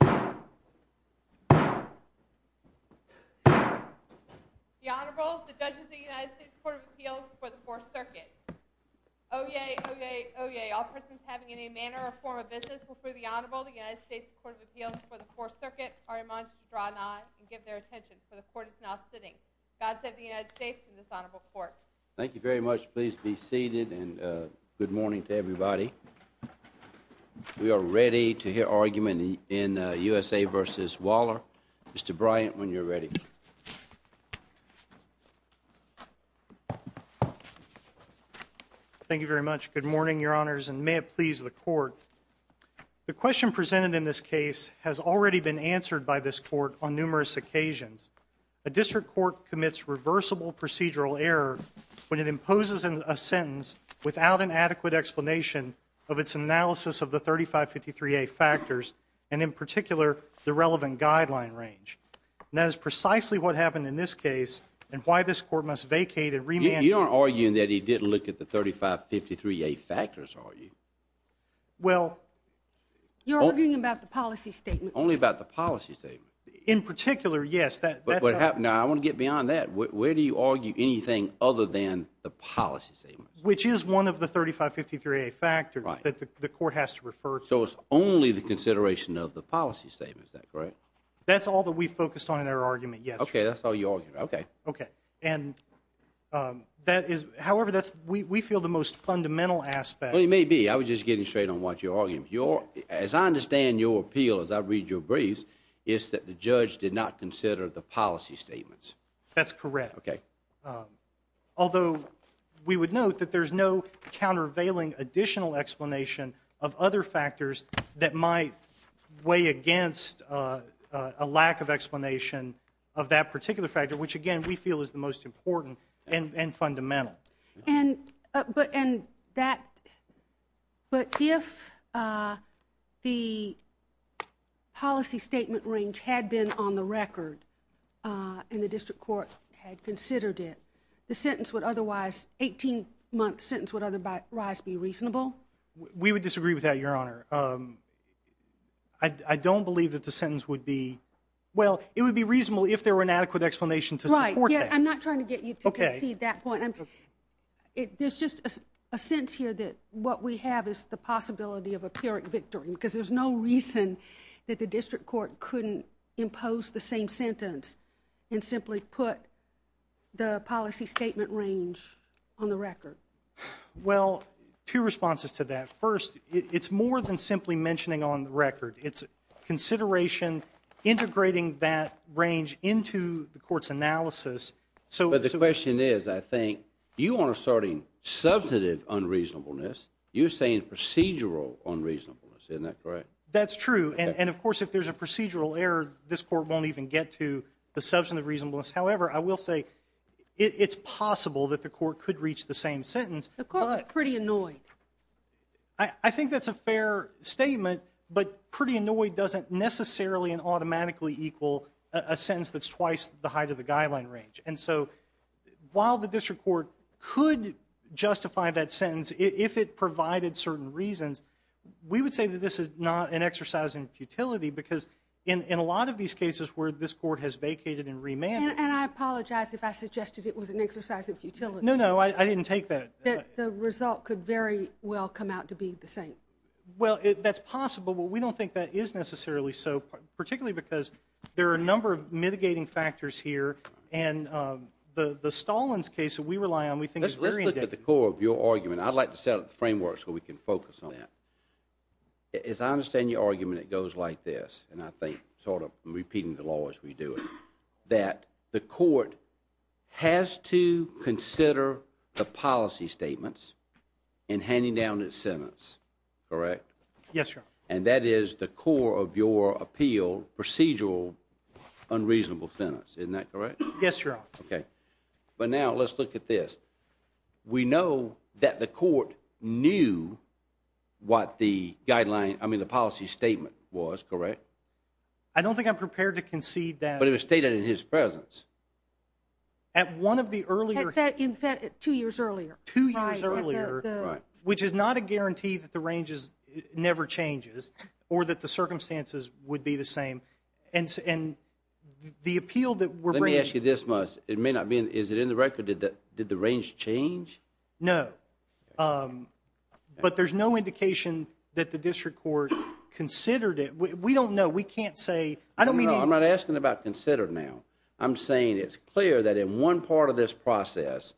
The Honorable, the Judges of the United States Court of Appeals before the 4th Circuit. Oyez! Oyez! Oyez! All persons having any manner or form of business before the Honorable, the United States Court of Appeals before the 4th Circuit, are admonished to draw not and give their attention, for the Court is now sitting. God save the United States and this Honorable Court. Thank you very much. Please be seated and good morning to everybody. We are ready to hear argument in USA v. Waller. Mr. Bryant, when you're ready. Thank you very much. Good morning, Your Honors, and may it please the Court. The question presented in this case has already been answered by this Court on numerous occasions. A district court commits reversible procedural error when it imposes a sentence without an analysis of the 3553A factors and, in particular, the relevant guideline range. That is precisely what happened in this case and why this Court must vacate and remand You're not arguing that he didn't look at the 3553A factors, are you? Well, you're arguing about the policy statement. Only about the policy statement. In particular, yes. Now, I want to get beyond that. Where do you argue anything other than the policy statement? Which is one of the 3553A factors that the Court has to refer to. So it's only the consideration of the policy statement, is that correct? That's all that we focused on in our argument yesterday. Okay, that's all you argued. Okay. Okay. And that is, however, we feel the most fundamental aspect Well, it may be. I was just getting straight on what you're arguing. As I understand your appeal, as I read your briefs, is that the judge did not consider the policy statements. That's correct. Although, we would note that there's no countervailing additional explanation of other factors that might weigh against a lack of explanation of that particular factor, which, again, we feel is the most important and fundamental. But if the policy statement range had been on the record and the District Court had considered it, the sentence would otherwise, 18-month sentence would otherwise be reasonable? We would disagree with that, Your Honor. I don't believe that the sentence would be, well, it would be reasonable if there were an adequate explanation to support that. Right. I'm not trying to get you to concede that point. There's just a sense here that what we have is the possibility of empiric victory because there's no reason that the District Court couldn't impose the same sentence and simply put the policy statement range on the record. Well, two responses to that. First, it's more than simply mentioning on the record. But the question is, I think, you aren't asserting substantive unreasonableness. You're saying procedural unreasonableness. Isn't that correct? That's true. And, of course, if there's a procedural error, this Court won't even get to the substantive reasonableness. However, I will say it's possible that the Court could reach the same sentence. The Court was pretty annoyed. I think that's a fair statement. But pretty annoyed doesn't necessarily and automatically equal a sentence that's twice the height of the guideline range. And so while the District Court could justify that sentence if it provided certain reasons, we would say that this is not an exercise in futility because in a lot of these cases where this Court has vacated and remanded. And I apologize if I suggested it was an exercise in futility. No, no. I didn't take that. The result could very well come out to be the same. Well, that's possible, but we don't think that is necessarily so, particularly because there are a number of mitigating factors here. And the Stallins case that we rely on, we think is very indicative. Let's look at the core of your argument. I'd like to set up the framework so we can focus on that. As I understand your argument, it goes like this, and I think sort of repeating the law as we do it, that the Court has to consider the policy statements in handing down its sentence, correct? Yes, Your Honor. And that is the core of your appeal, procedural unreasonable sentence, isn't that correct? Yes, Your Honor. Okay. But now let's look at this. We know that the Court knew what the guideline, I mean the policy statement was, correct? I don't think I'm prepared to concede that. But it was stated in his presence. At one of the earlier... In fact, two years earlier. Two years earlier, which is not a guarantee that the range never changes, or that the circumstances would be the same. And the appeal that we're bringing... Let me ask you this, Moss. It may not be, is it in the record, did the range change? No. But there's no indication that the District Court considered it. We don't know. We can't say... I'm not asking about considered now. I'm saying it's clear that in one part of this process,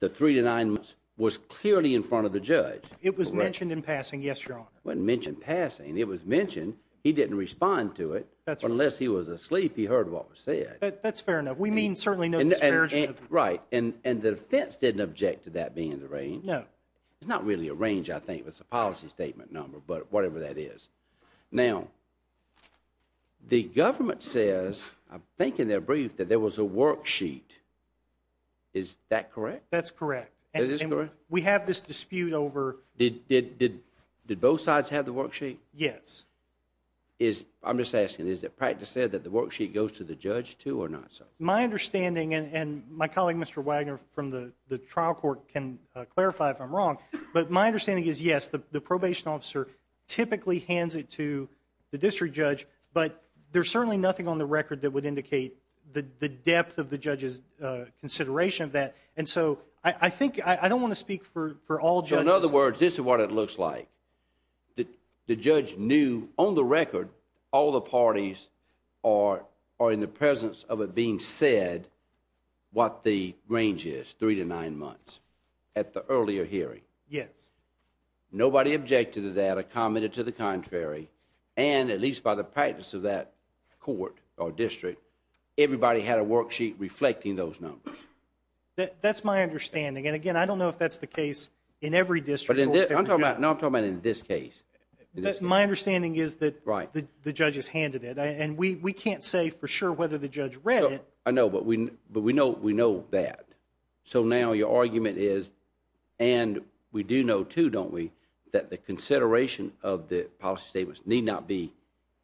the three to nine months was clearly in front of the judge. It was mentioned in passing, yes, Your Honor. It wasn't mentioned in passing. It was mentioned. He didn't respond to it. That's right. Unless he was asleep, he heard what was said. That's fair enough. We mean certainly no discrepancy. Right. And the defense didn't object to that being in the range. No. It's not really a range, I think. It's a policy statement number, but whatever that is. Now, the government says, I think in their brief, that there was a worksheet. Is that correct? That's correct. That is correct? We have this dispute over... Did both sides have the worksheet? Yes. I'm just asking, is it practically said that the worksheet goes to the judge too or not? My understanding, and my colleague Mr. Wagner from the trial court can clarify if I'm wrong, but my understanding is, yes, the probation officer typically hands it to the district judge, but there's certainly nothing on the record that would indicate the depth of the judge's consideration of that. And so I think I don't want to speak for all judges. In other words, this is what it looks like. The judge knew on the record all the parties are in the presence of it being said what the range is, three to nine months, at the earlier hearing. Yes. Nobody objected to that or commented to the contrary, and at least by the practice of that court or district, everybody had a worksheet reflecting those numbers. That's my understanding. And again, I don't know if that's the case in every district court. No, I'm talking about in this case. My understanding is that the judge has handed it, and we can't say for sure whether the judge read it. I know, but we know that. So now your argument is, and we do know, too, don't we, that the consideration of the policy statements need not be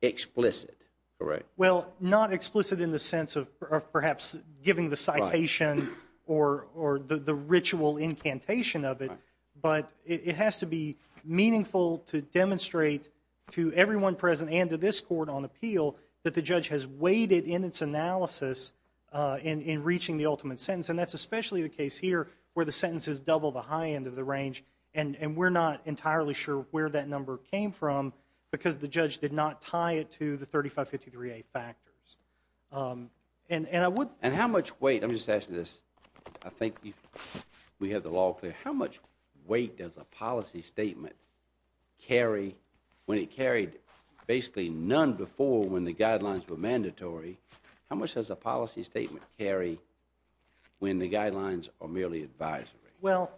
explicit. Correct. Well, not explicit in the sense of perhaps giving the citation or the ritual incantation of it, but it has to be meaningful to demonstrate to everyone present and to this court on appeal that the judge has weighted in its analysis in reaching the ultimate sentence, and that's especially the case here where the sentence is double the high end of the range, and we're not entirely sure where that number came from because the judge did not tie it to the 3553A factors. And how much weight, let me just ask you this, I think we have the law clear, but how much weight does a policy statement carry when it carried basically none before when the guidelines were mandatory? How much does a policy statement carry when the guidelines are merely advisory? Well,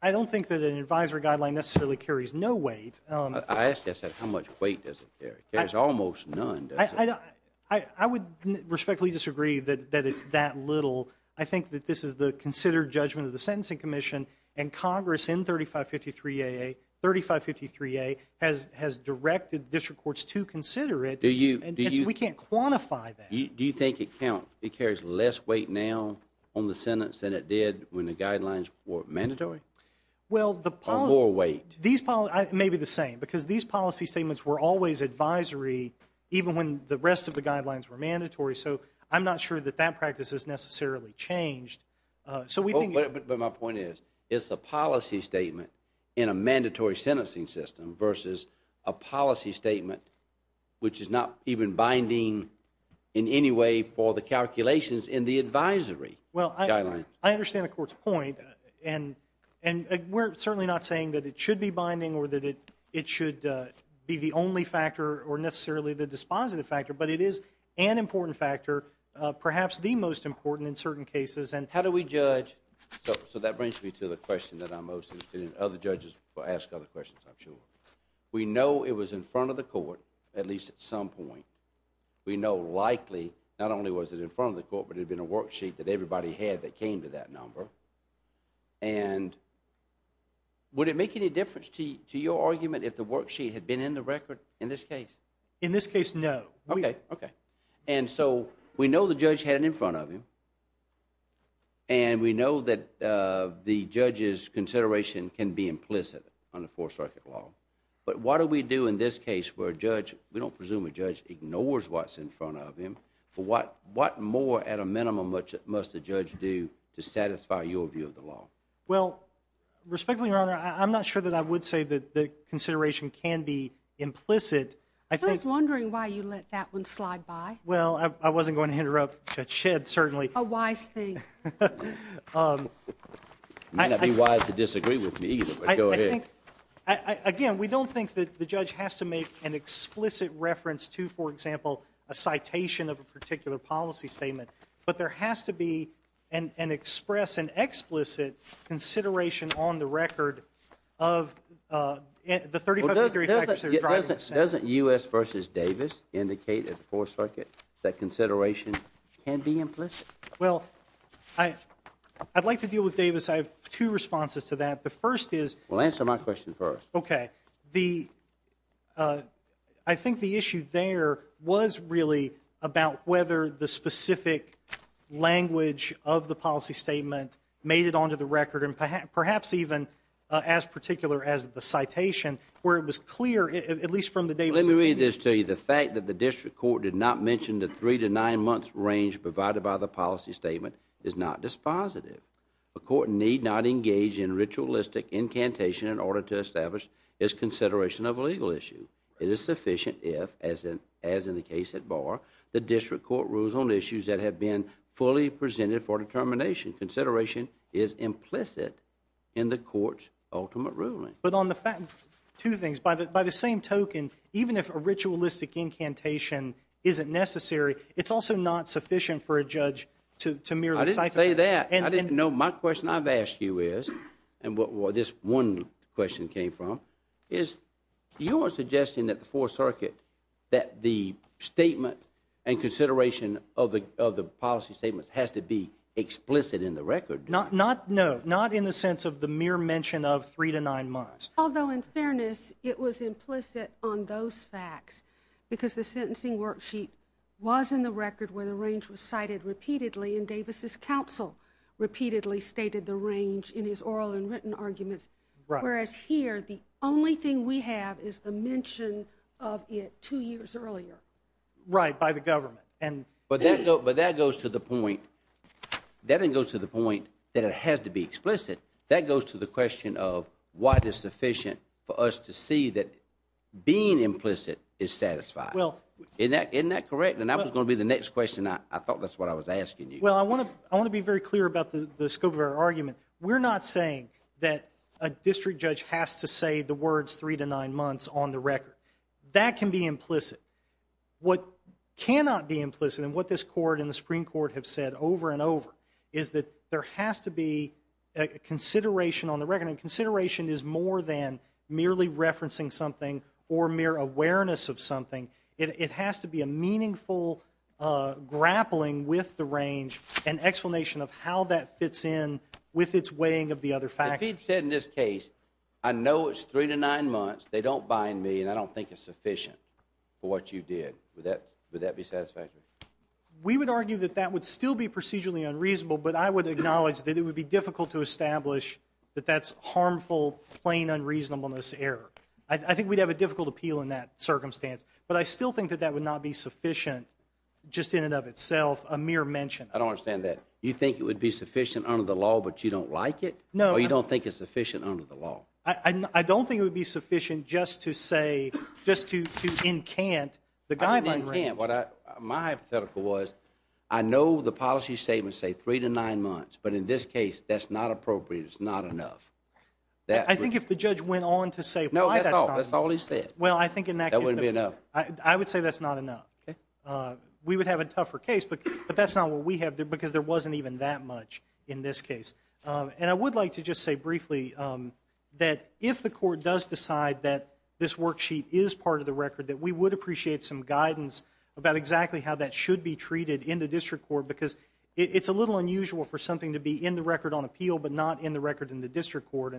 I don't think that an advisory guideline necessarily carries no weight. I asked you, I said, how much weight does it carry? It carries almost none, does it? I would respectfully disagree that it's that little. I think that this is the considered judgment of the Sentencing Commission, and Congress in 3553A has directed district courts to consider it. We can't quantify that. Do you think it carries less weight now on the sentence than it did when the guidelines were mandatory? Or more weight? Maybe the same, because these policy statements were always advisory even when the rest of the guidelines were mandatory, so I'm not sure that that practice has necessarily changed. But my point is, it's a policy statement in a mandatory sentencing system versus a policy statement which is not even binding in any way for the calculations in the advisory guidelines. Well, I understand the Court's point, and we're certainly not saying that it should be binding or that it should be the only factor or necessarily the dispositive factor, but it is an important factor, perhaps the most important in certain cases. How do we judge? So that brings me to the question that I'm most interested in. Other judges will ask other questions, I'm sure. We know it was in front of the Court, at least at some point. We know likely, not only was it in front of the Court, but it had been a worksheet that everybody had that came to that number. And would it make any difference to your argument if the worksheet had been in the record in this case? In this case, no. Okay, okay. And so we know the judge had it in front of him, and we know that the judge's consideration can be implicit under Fourth Circuit law. But what do we do in this case where a judge, we don't presume a judge ignores what's in front of him, but what more at a minimum must a judge do to satisfy your view of the law? Well, respectfully, Your Honor, I'm not sure that I would say that the consideration can be implicit. I was wondering why you let that one slide by. Well, I wasn't going to interrupt Judge Shedd, certainly. A wise thing. It may not be wise to disagree with me either, but go ahead. Again, we don't think that the judge has to make an explicit reference to, for example, a citation of a particular policy statement, but there has to be an express and explicit consideration on the record of the 35 to 35 percent driving incentive. Doesn't U.S. v. Davis indicate at the Fourth Circuit that consideration can be implicit? Well, I'd like to deal with Davis. I have two responses to that. The first is— Well, answer my question first. Okay. I think the issue there was really about whether the specific language of the policy statement made it onto the record, and perhaps even as particular as the citation, where it was clear, at least from the Davis— Let me read this to you. The fact that the district court did not mention the three to nine months range provided by the policy statement is not dispositive. A court need not engage in ritualistic incantation in order to establish its consideration of a legal issue. It is sufficient if, as in the case at bar, the district court rules on issues that have been fully presented for determination. Consideration is implicit in the court's ultimate ruling. But on the fact—two things. By the same token, even if a ritualistic incantation isn't necessary, it's also not sufficient for a judge to merely— I didn't say that. I didn't know. My question I've asked you is, and what this one question came from, is your suggestion that the Fourth Circuit, that the statement and consideration of the policy statements has to be explicit in the record. Not—no, not in the sense of the mere mention of three to nine months. Although, in fairness, it was implicit on those facts because the sentencing worksheet was in the record where the range was cited repeatedly, and Davis' counsel repeatedly stated the range in his oral and written arguments. Right. Whereas here, the only thing we have is the mention of it two years earlier. Right, by the government. But that goes to the point—that doesn't go to the point that it has to be explicit. That goes to the question of what is sufficient for us to see that being implicit is satisfying. Isn't that correct? And that was going to be the next question. I thought that's what I was asking you. Well, I want to be very clear about the scope of our argument. We're not saying that a district judge has to say the words three to nine months on the record. That can be implicit. What cannot be implicit, and what this court and the Supreme Court have said over and over, is that there has to be a consideration on the record, and consideration is more than merely referencing something or mere awareness of something. It has to be a meaningful grappling with the range and explanation of how that fits in with its weighing of the other factors. If he'd said in this case, I know it's three to nine months. They don't bind me, and I don't think it's sufficient for what you did, would that be satisfactory? We would argue that that would still be procedurally unreasonable, but I would acknowledge that it would be difficult to establish that that's harmful, plain unreasonableness error. I think we'd have a difficult appeal in that circumstance, but I still think that that would not be sufficient just in and of itself, a mere mention. I don't understand that. You think it would be sufficient under the law, but you don't like it? No. Or you don't think it's sufficient under the law? I don't think it would be sufficient just to say, just to incant the guideline range. I didn't incant. My hypothetical was, I know the policy statement say three to nine months, but in this case, that's not appropriate. It's not enough. I think if the judge went on to say why that's not enough. No, that's all he said. Well, I think in that case. That wouldn't be enough. I would say that's not enough. We would have a tougher case, but that's not what we have because there wasn't even that much in this case. And I would like to just say briefly that if the court does decide that this worksheet is part of the record, that we would appreciate some guidance about exactly how that should be treated in the district court because it's a little unusual for something to be in the record on appeal but not in the record in the district court.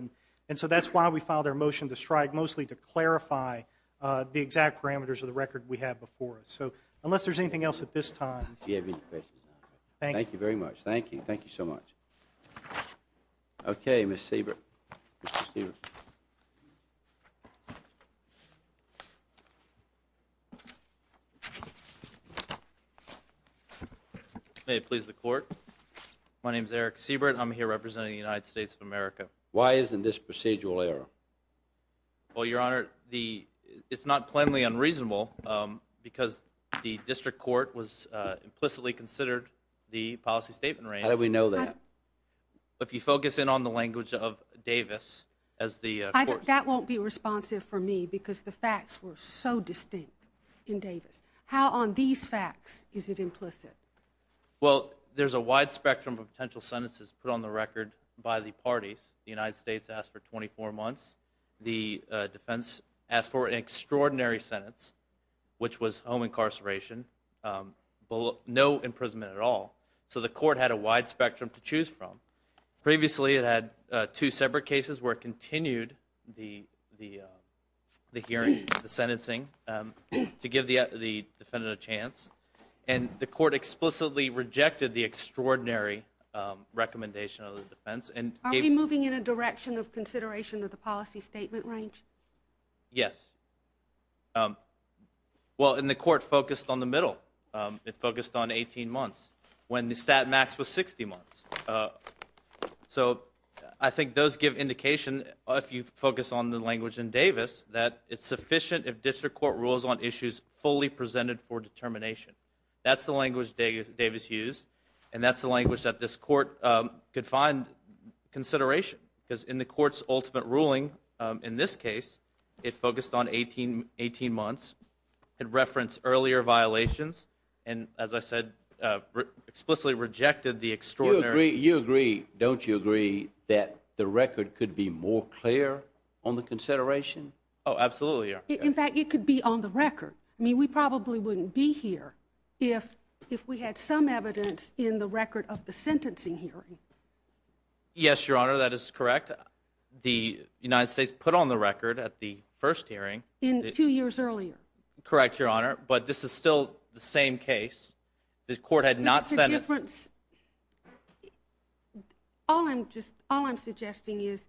And so that's why we filed our motion to strike, mostly to clarify the exact parameters of the record we have before us. So unless there's anything else at this time. Do you have any questions? Thank you. Thank you very much. Thank you. Thank you so much. Okay, Miss Siebert. May it please the court. My name is Eric Siebert. I'm here representing the United States of America. Why isn't this procedural error? Well, Your Honor, it's not plainly unreasonable because the district court was implicitly considered the policy statement range. How do we know that? If you focus in on the language of Davis as the court. That won't be responsive for me because the facts were so distinct in Davis. How on these facts is it implicit? Well, there's a wide spectrum of potential sentences put on the record by the parties. The United States asked for 24 months. The defense asked for an extraordinary sentence, which was home incarceration, no imprisonment at all. So the court had a wide spectrum to choose from. Previously, it had two separate cases where it continued the hearing, the sentencing, to give the defendant a chance. And the court explicitly rejected the extraordinary recommendation of the defense. Are we moving in a direction of consideration of the policy statement range? Yes. Well, and the court focused on the middle. It focused on 18 months when the stat max was 60 months. So I think those give indication, if you focus on the language in Davis, that it's sufficient if district court rules on issues fully presented for determination. That's the language Davis used, and that's the language that this court could find consideration. Because in the court's ultimate ruling in this case, it focused on 18 months. It referenced earlier violations and, as I said, explicitly rejected the extraordinary. You agree, don't you agree, that the record could be more clear on the consideration? Oh, absolutely. In fact, it could be on the record. I mean, we probably wouldn't be here if we had some evidence in the record of the sentencing hearing. Yes, Your Honor, that is correct. The United States put on the record at the first hearing. In two years earlier. Correct, Your Honor. But this is still the same case. The court had not sent it. All I'm just all I'm suggesting is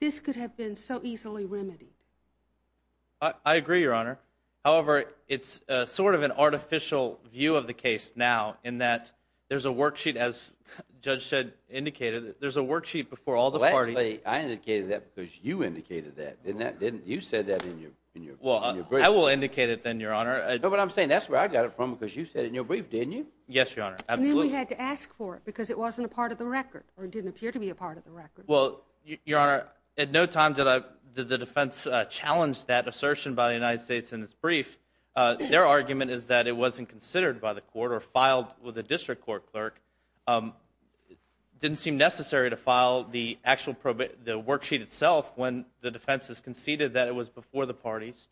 this could have been so easily remedied. I agree, Your Honor. However, it's sort of an artificial view of the case now in that there's a worksheet, as Judge said indicated, there's a worksheet before all the parties. I indicated that because you indicated that, didn't you? You said that in your brief. Well, I will indicate it then, Your Honor. No, but I'm saying that's where I got it from because you said it in your brief, didn't you? Yes, Your Honor. And then we had to ask for it because it wasn't a part of the record or didn't appear to be a part of the record. Well, Your Honor, at no time did the defense challenge that assertion by the United States in its brief. Their argument is that it wasn't considered by the court or filed with a district court clerk. Didn't seem necessary to file the actual worksheet itself when the defense has conceded that it was before the parties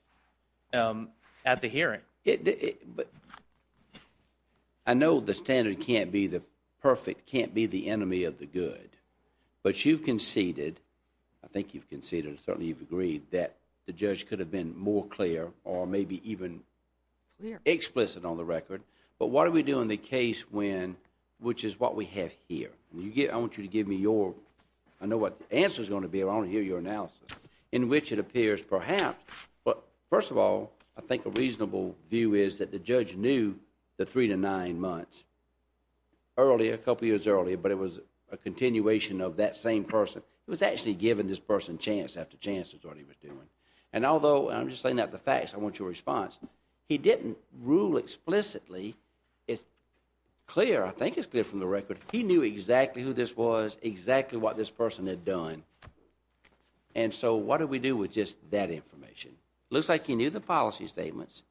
at the hearing. But I know the standard can't be the perfect, can't be the enemy of the good. But you've conceded, I think you've conceded, certainly you've agreed that the judge could have been more clear or maybe even explicit on the record. But what do we do in the case when, which is what we have here? I want you to give me your, I know what the answer is going to be, but I want to hear your analysis in which it appears perhaps, but first of all, I think a reasonable view is that the judge knew the three to nine months. Earlier, a couple years earlier, but it was a continuation of that same person. It was actually given this person chance after chance is what he was doing. And although, and I'm just saying that the facts, I want your response. He didn't rule explicitly. It's clear, I think it's clear from the record. He knew exactly who this was, exactly what this person had done. And so what do we do with just that information? Looks like he knew the policy statements,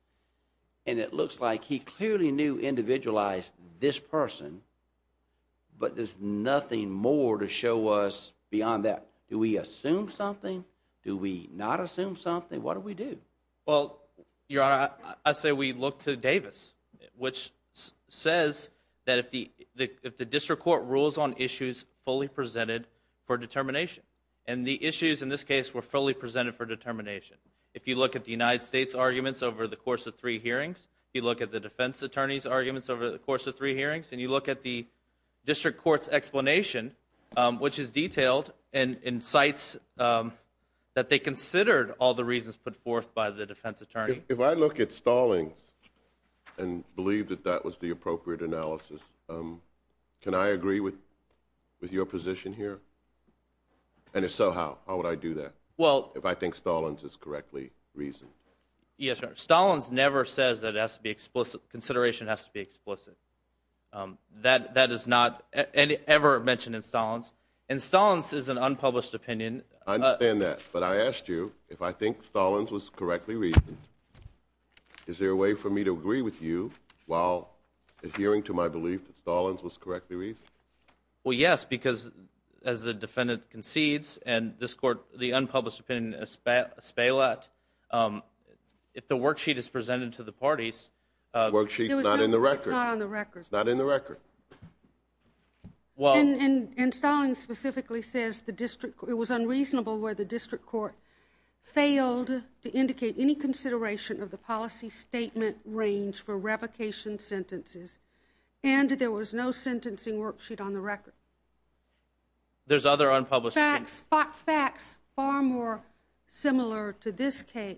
and it looks like he clearly knew individualized this person, but there's nothing more to show us beyond that. Do we assume something? Do we not assume something? What do we do? Well, Your Honor, I say we look to Davis, which says that if the district court rules on issues fully presented for determination, and the issues in this case were fully presented for determination. If you look at the United States arguments over the course of three hearings, you look at the defense attorney's arguments over the course of three hearings, and you look at the district court's explanation, which is detailed, and cites that they considered all the reasons put forth by the defense attorney. If I look at Stallings and believe that that was the appropriate analysis, can I agree with your position here? And if so, how? How would I do that if I think Stallings is correctly reasoned? Yes, Your Honor. Stallings never says that consideration has to be explicit. That is not ever mentioned in Stallings, and Stallings is an unpublished opinion. I understand that, but I asked you if I think Stallings was correctly reasoned. Is there a way for me to agree with you while adhering to my belief that Stallings was correctly reasoned? Well, yes, because as the defendant concedes, and this court, the unpublished opinion, if the worksheet is presented to the parties— The worksheet is not in the record. It's not on the record. It's not in the record. And Stallings specifically says it was unreasonable where the district court failed to indicate any consideration of the policy statement range for revocation sentences, and there was no sentencing worksheet on the record. There's other unpublished— It's facts far more similar to this case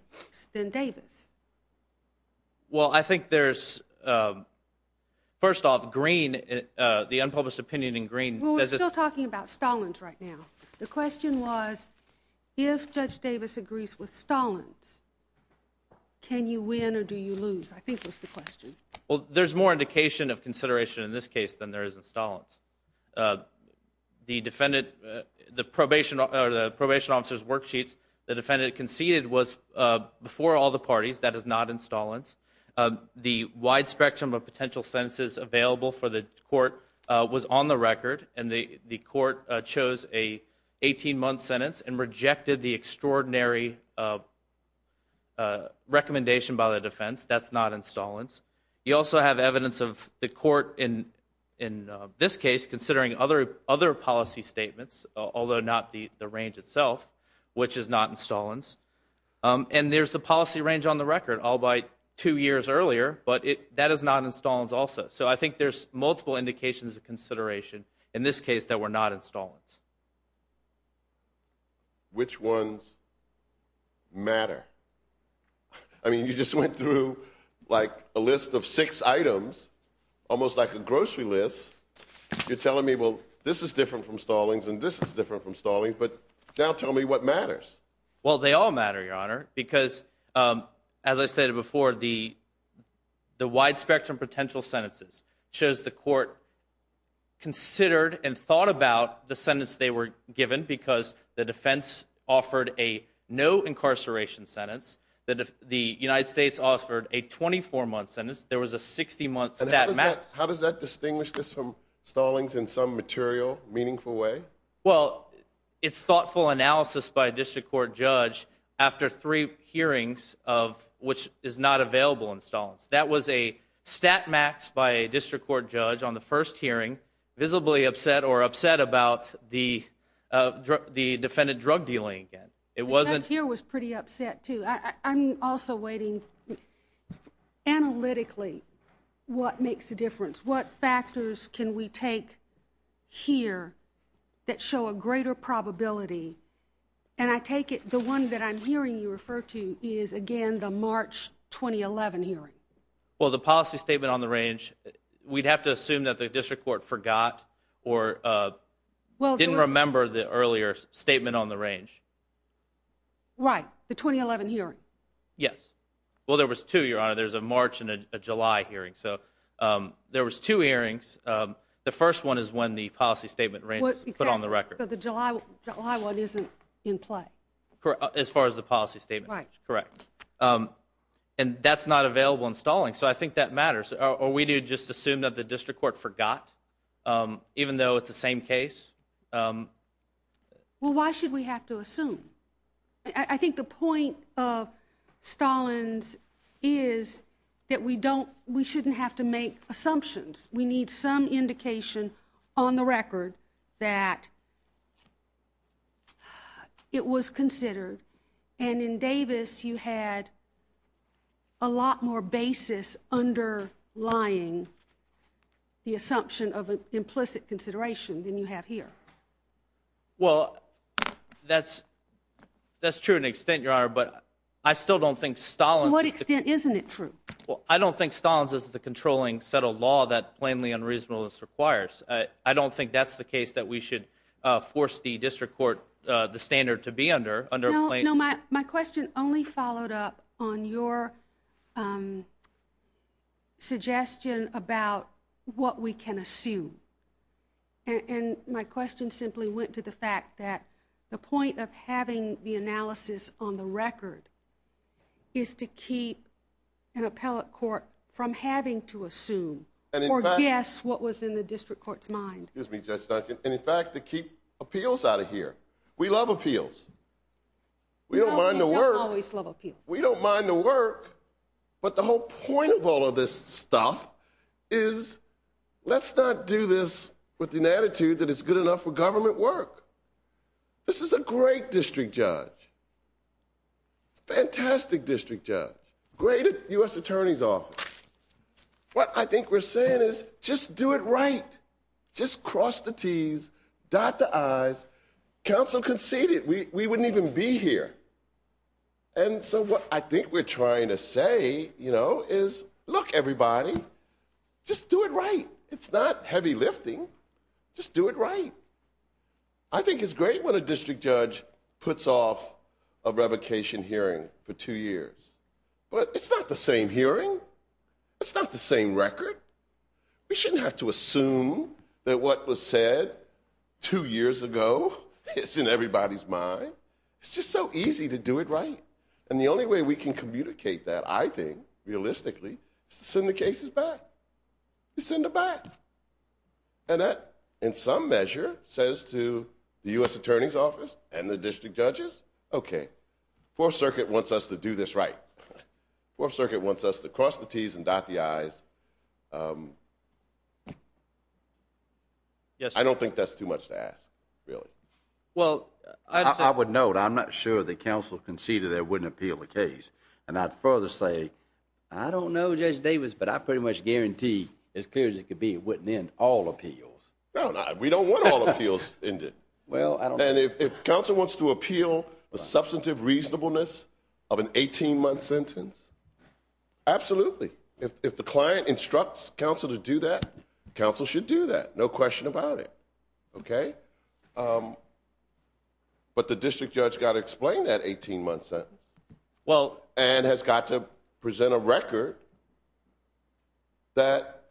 than Davis. Well, I think there's, first off, Green, the unpublished opinion in Green— Well, we're still talking about Stallings right now. The question was, if Judge Davis agrees with Stallings, can you win or do you lose, I think was the question. Well, there's more indication of consideration in this case than there is in Stallings. The probation officer's worksheets the defendant conceded was before all the parties. That is not in Stallings. The wide spectrum of potential sentences available for the court was on the record, and the court chose an 18-month sentence and rejected the extraordinary recommendation by the defense. That's not in Stallings. You also have evidence of the court in this case considering other policy statements, although not the range itself, which is not in Stallings. And there's the policy range on the record all but two years earlier, but that is not in Stallings also. So I think there's multiple indications of consideration in this case that were not in Stallings. Which ones matter? I mean, you just went through, like, a list of six items, almost like a grocery list. You're telling me, well, this is different from Stallings and this is different from Stallings, but now tell me what matters. Well, they all matter, Your Honor, because, as I stated before, the wide spectrum of potential sentences shows the court considered and thought about the sentence they were given because the defense offered a no-incarceration sentence. The United States offered a 24-month sentence. There was a 60-month stat max. How does that distinguish this from Stallings in some material, meaningful way? Well, it's thoughtful analysis by a district court judge after three hearings of which is not available in Stallings. That was a stat max by a district court judge on the first hearing, visibly upset or upset about the defendant drug dealing. The judge here was pretty upset, too. I'm also waiting analytically what makes a difference. What factors can we take here that show a greater probability? And I take it the one that I'm hearing you refer to is, again, the March 2011 hearing. Well, the policy statement on the range, we'd have to assume that the district court forgot or didn't remember the earlier statement on the range. Right, the 2011 hearing. Yes. Well, there was two, Your Honor. There's a March and a July hearing. So there was two hearings. The first one is when the policy statement was put on the record. The July one isn't in play. As far as the policy statement. Right. Correct. And that's not available in Stallings. So I think that matters. Are we to just assume that the district court forgot, even though it's the same case? Well, why should we have to assume? I think the point of Stallings is that we shouldn't have to make assumptions. We need some indication on the record that it was considered. And in Davis, you had a lot more basis underlying the assumption of an implicit consideration than you have here. Well, that's true to an extent, Your Honor, but I still don't think Stallings is the controlling set of law. I don't think that's the case that we should force the district court the standard to be under. No, my question only followed up on your suggestion about what we can assume. And my question simply went to the fact that the point of having the analysis on the record is to keep an appellate court from having to assume. Or guess what was in the district court's mind. Excuse me, Judge Duncan. And in fact, to keep appeals out of here. We love appeals. We don't mind the work. We don't always love appeals. We don't mind the work. But the whole point of all of this stuff is let's not do this with an attitude that it's good enough for government work. This is a great district judge. Fantastic district judge. Great U.S. Attorney's Office. What I think we're saying is just do it right. Just cross the T's, dot the I's. Counsel conceded. We wouldn't even be here. And so what I think we're trying to say, you know, is look, everybody, just do it right. It's not heavy lifting. Just do it right. I think it's great when a district judge puts off a revocation hearing for two years. But it's not the same hearing. It's not the same record. We shouldn't have to assume that what was said two years ago is in everybody's mind. It's just so easy to do it right. And the only way we can communicate that, I think, realistically, is to send the cases back. Send them back. And that, in some measure, says to the U.S. Attorney's Office and the district judges, okay, Fourth Circuit wants us to do this right. Fourth Circuit wants us to cross the T's and dot the I's. I don't think that's too much to ask, really. Well, I would note, I'm not sure that counsel conceded that it wouldn't appeal the case. And I'd further say, I don't know, Judge Davis, but I pretty much guarantee as clear as it could be it wouldn't end all appeals. No, we don't want all appeals ended. And if counsel wants to appeal the substantive reasonableness of an 18-month sentence, absolutely. If the client instructs counsel to do that, counsel should do that. No question about it. Okay? But the district judge has got to explain that 18-month sentence. And has got to present a record that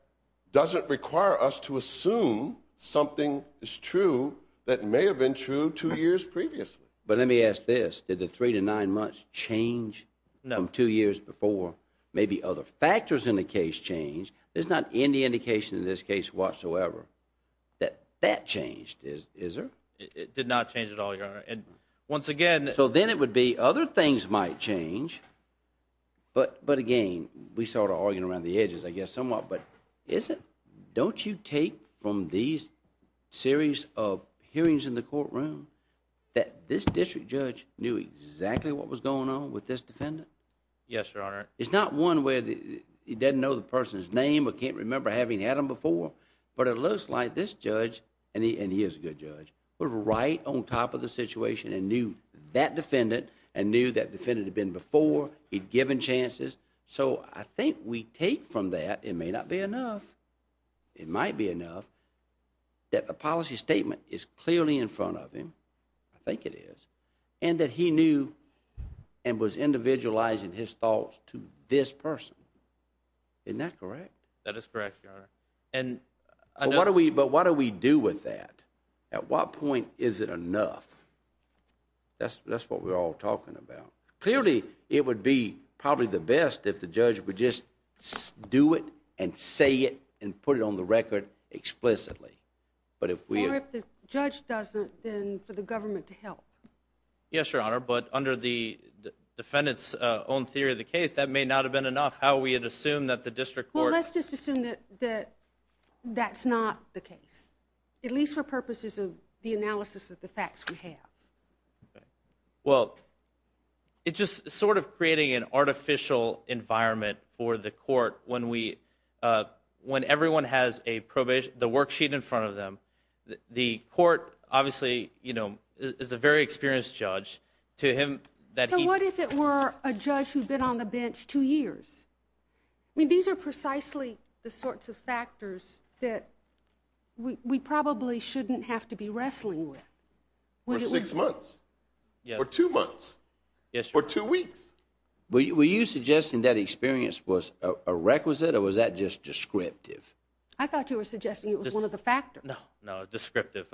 doesn't require us to assume something is true that may have been true two years previously. But let me ask this. Did the three to nine months change from two years before? Maybe other factors in the case changed. There's not any indication in this case whatsoever that that changed, is there? It did not change at all, Your Honor. And once again... So then it would be other things might change. But again, we're sort of arguing around the edges, I guess, somewhat. But don't you take from these series of hearings in the courtroom that this district judge knew exactly what was going on with this defendant? Yes, Your Honor. It's not one where he doesn't know the person's name or can't remember having had them before. But it looks like this judge, and he is a good judge, was right on top of the situation and knew that defendant and knew that defendant had been before. He'd given chances. So I think we take from that, it may not be enough, it might be enough, that the policy statement is clearly in front of him. I think it is. And that he knew and was individualizing his thoughts to this person. That is correct, Your Honor. But what do we do with that? At what point is it enough? That's what we're all talking about. Clearly, it would be probably the best if the judge would just do it and say it and put it on the record explicitly. Or if the judge doesn't, then for the government to help. Yes, Your Honor. But under the defendant's own theory of the case, that may not have been enough. How we would assume that the district court... Well, let's just assume that that's not the case. At least for purposes of the analysis of the facts we have. Well, it's just sort of creating an artificial environment for the court when everyone has the worksheet in front of them. The court, obviously, is a very experienced judge. So what if it were a judge who's been on the bench two years? I mean, these are precisely the sorts of factors that we probably shouldn't have to be wrestling with. Or six months. Or two months. Or two weeks. Were you suggesting that experience was a requisite or was that just descriptive? I thought you were suggesting it was one of the factors. No, no, descriptive.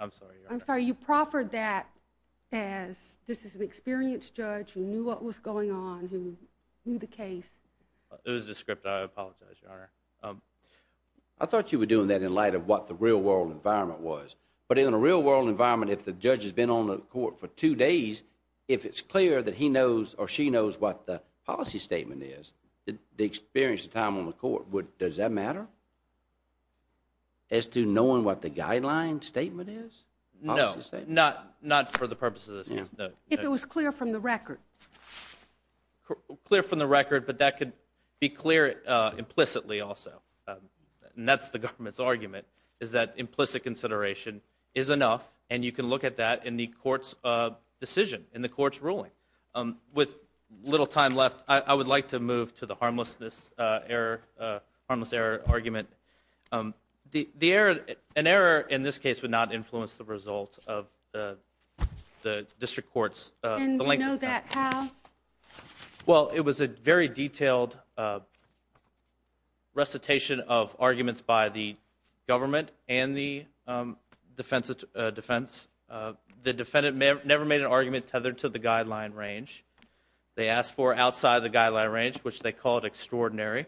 I'm sorry, Your Honor. I'm sorry, you proffered that as this is an experienced judge who knew what was going on, who knew the case. It was descriptive. I apologize, Your Honor. I thought you were doing that in light of what the real-world environment was. But in a real-world environment, if the judge has been on the court for two days, if it's clear that he knows or she knows what the policy statement is, the experience and time on the court, does that matter? As to knowing what the guideline statement is? No, not for the purposes of this case, no. If it was clear from the record. Clear from the record, but that could be clear implicitly also. And that's the government's argument, is that implicit consideration is enough, and you can look at that in the court's decision, in the court's ruling. With little time left, I would like to move to the harmless error argument. An error in this case would not influence the result of the district court's length of time. And we know that how? Well, it was a very detailed recitation of arguments by the government and the defense. The defendant never made an argument tethered to the guideline range. They asked for outside the guideline range, which they call it extraordinary.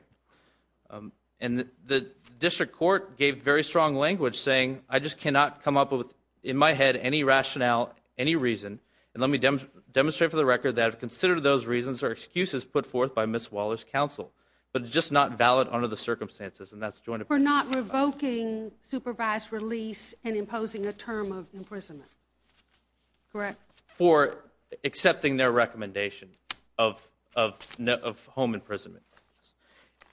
And the district court gave very strong language, saying, I just cannot come up with, in my head, any rationale, any reason, and let me demonstrate for the record that I've considered those reasons are excuses put forth by Ms. Waller's counsel, but it's just not valid under the circumstances, and that's a joint opinion. For not revoking supervised release and imposing a term of imprisonment, correct? For accepting their recommendation of home imprisonment.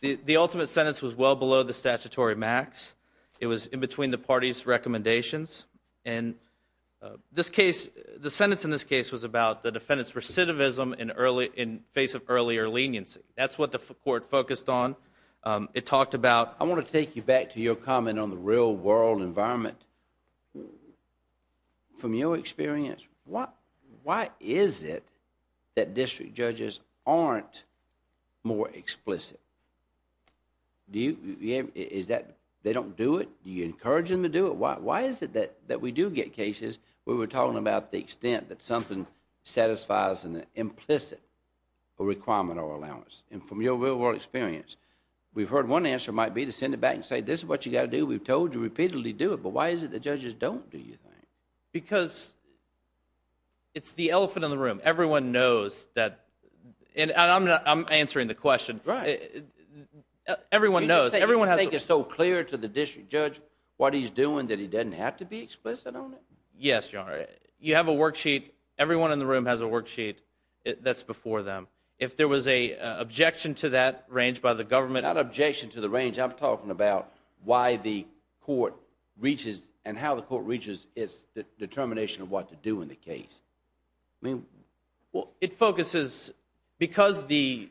The ultimate sentence was well below the statutory max. It was in between the parties' recommendations. And the sentence in this case was about the defendant's recidivism in face of earlier leniency. That's what the court focused on. It talked about, I want to take you back to your comment on the real world environment. From your experience, why is it that district judges aren't more explicit? Do you, is that, they don't do it? Do you encourage them to do it? Why is it that we do get cases where we're talking about the extent that something satisfies an implicit requirement or allowance? And from your real world experience, we've heard one answer might be to send it back and say, this is what you've got to do. We've told you repeatedly to do it. But why is it that judges don't do anything? Because it's the elephant in the room. Everyone knows that, and I'm answering the question. Right. Everyone knows. You think it's so clear to the district judge what he's doing that he doesn't have to be explicit on it? Yes, Your Honor. You have a worksheet. Everyone in the room has a worksheet that's before them. If there was an objection to that range by the government. Not objection to the range. I'm talking about why the court reaches and how the court reaches its determination of what to do in the case. I mean. Well, it focuses, because the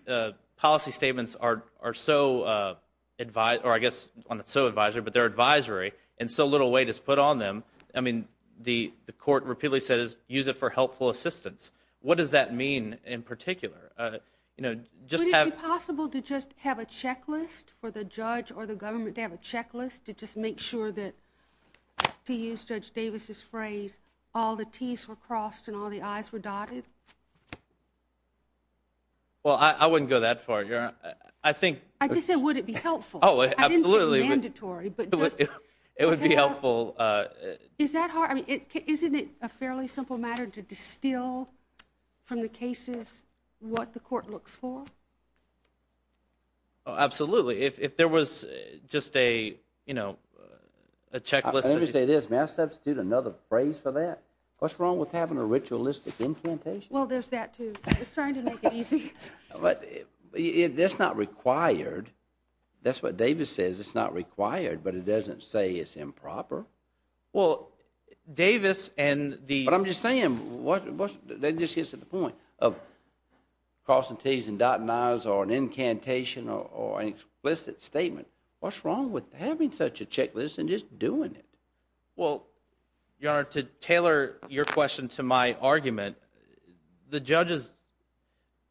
policy statements are so advised, or I guess not so advised, but they're advisory, and so little weight is put on them, I mean, the court repeatedly says, use it for helpful assistance. What does that mean in particular? Would it be possible to just have a checklist for the judge or the government, to have a checklist to just make sure that, to use Judge Davis' phrase, all the T's were crossed and all the I's were dotted? Well, I wouldn't go that far, Your Honor. I just said would it be helpful. Oh, absolutely. I didn't say mandatory. It would be helpful. Isn't it a fairly simple matter to distill from the cases what the court looks for? Absolutely. If there was just a checklist. Let me say this. May I substitute another phrase for that? What's wrong with having a ritualistic incantation? Well, there's that, too. I was trying to make it easy. That's not required. That's what Davis says. It's not required, but it doesn't say it's improper. Well, Davis and the ---- But I'm just saying, that just gets to the point of crossing T's and dotting I's or an incantation or an explicit statement. What's wrong with having such a checklist and just doing it? Well, Your Honor, to tailor your question to my argument, the judges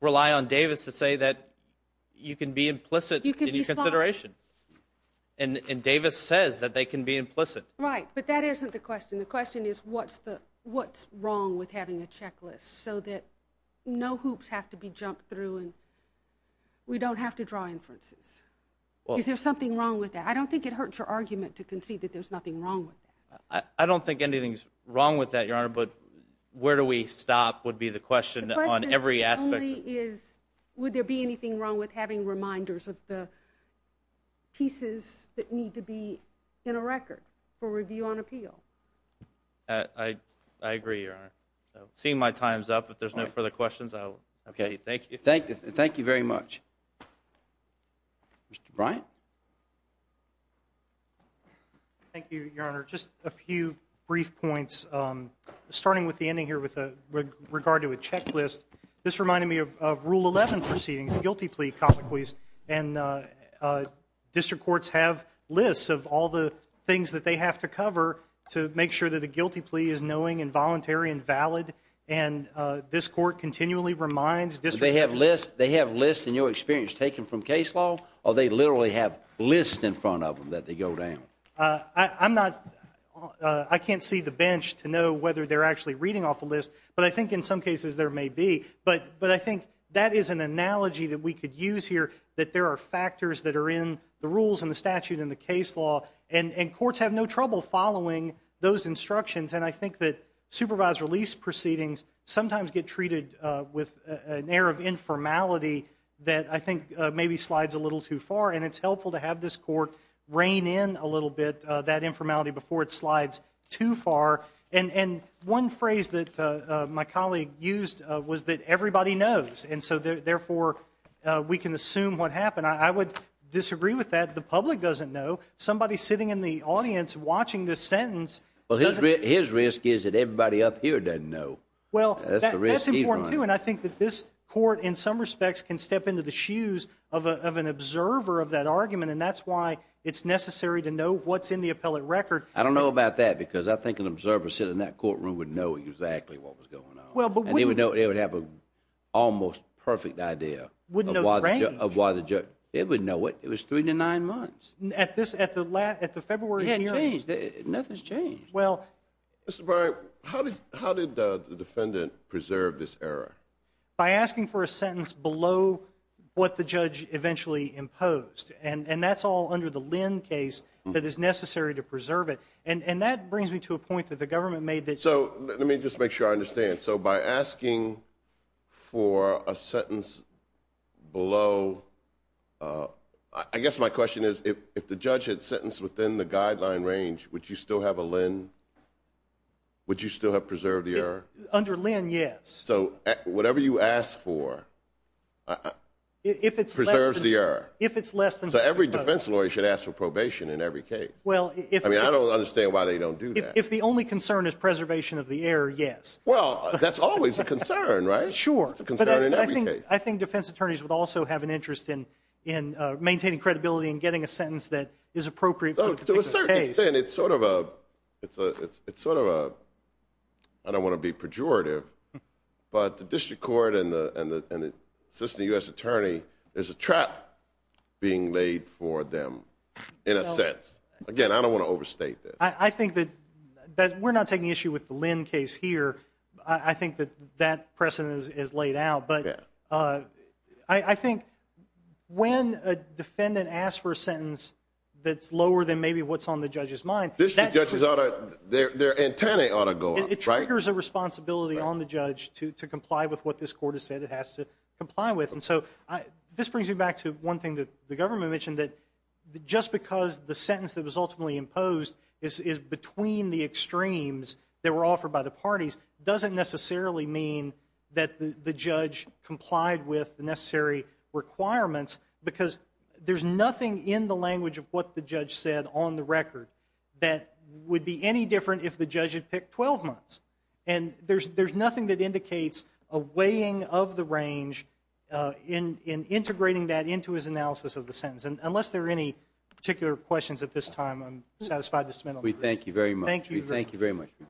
rely on Davis to say that you can be implicit in your consideration. And Davis says that they can be implicit. Right, but that isn't the question. The question is what's wrong with having a checklist so that no hoops have to be jumped through and we don't have to draw inferences? Is there something wrong with that? I don't think it hurts your argument to concede that there's nothing wrong with that. I don't think anything's wrong with that, Your Honor, but where do we stop would be the question on every aspect. Would there be anything wrong with having reminders of the pieces that need to be in a record for review on appeal? I agree, Your Honor. Seeing my time's up, if there's no further questions, thank you. Thank you very much. Mr. Bryant? Thank you, Your Honor. Just a few brief points, starting with the ending here with regard to a checklist. This reminded me of Rule 11 proceedings, the guilty plea comment quiz, and district courts have lists of all the things that they have to cover to make sure that a guilty plea is knowing and voluntary and valid, and this court continually reminds district courts. Do they have lists in your experience taken from case law, or do they literally have lists in front of them that they go down? I can't see the bench to know whether they're actually reading off a list, but I think in some cases there may be. But I think that is an analogy that we could use here, that there are factors that are in the rules and the statute and the case law, and courts have no trouble following those instructions, and I think that supervised release proceedings sometimes get treated with an air of informality that I think maybe slides a little too far, and it's helpful to have this court rein in a little bit that informality before it slides too far. And one phrase that my colleague used was that everybody knows, and so therefore we can assume what happened. I would disagree with that. The public doesn't know. Somebody sitting in the audience watching this sentence doesn't know. Well, his risk is that everybody up here doesn't know. Well, that's important, too, and I think that this court in some respects can step into the shoes of an observer of that argument, and that's why it's necessary to know what's in the appellate record. I don't know about that, because I think an observer sitting in that courtroom would know exactly what was going on, and they would have an almost perfect idea of why the judge – they would know it. It was three to nine months. At the February hearing? It hadn't changed. Nothing's changed. Well, Mr. Barry, how did the defendant preserve this error? By asking for a sentence below what the judge eventually imposed, and that's all under the Lynn case that is necessary to preserve it, and that brings me to a point that the government made that you – So let me just make sure I understand. So by asking for a sentence below – I guess my question is if the judge had sentenced within the guideline range, would you still have a Lynn? Would you still have preserved the error? Under Lynn, yes. So whatever you ask for preserves the error? If it's less than – So every defense lawyer should ask for probation in every case. I mean, I don't understand why they don't do that. If the only concern is preservation of the error, yes. Well, that's always a concern, right? Sure. That's a concern in every case. I think defense attorneys would also have an interest in maintaining credibility and getting a sentence that is appropriate for a particular case. To a certain extent, it's sort of a – I don't want to be pejorative, but the district court and the assistant U.S. attorney, there's a trap being laid for them in a sense. Again, I don't want to overstate this. I think that we're not taking issue with the Lynn case here. I think that that precedent is laid out. But I think when a defendant asks for a sentence that's lower than maybe what's on the judge's mind – District judges ought to – their antennae ought to go up, right? It triggers a responsibility on the judge to comply with what this court has said it has to comply with. And so this brings me back to one thing that the government mentioned, that just because the sentence that was ultimately imposed is between the extremes that were offered by the parties, doesn't necessarily mean that the judge complied with the necessary requirements because there's nothing in the language of what the judge said on the record that would be any different if the judge had picked 12 months. And there's nothing that indicates a weighing of the range in integrating that into his analysis of the sentence. And unless there are any particular questions at this time, I'm satisfied to submit them. We thank you very much. Thank you.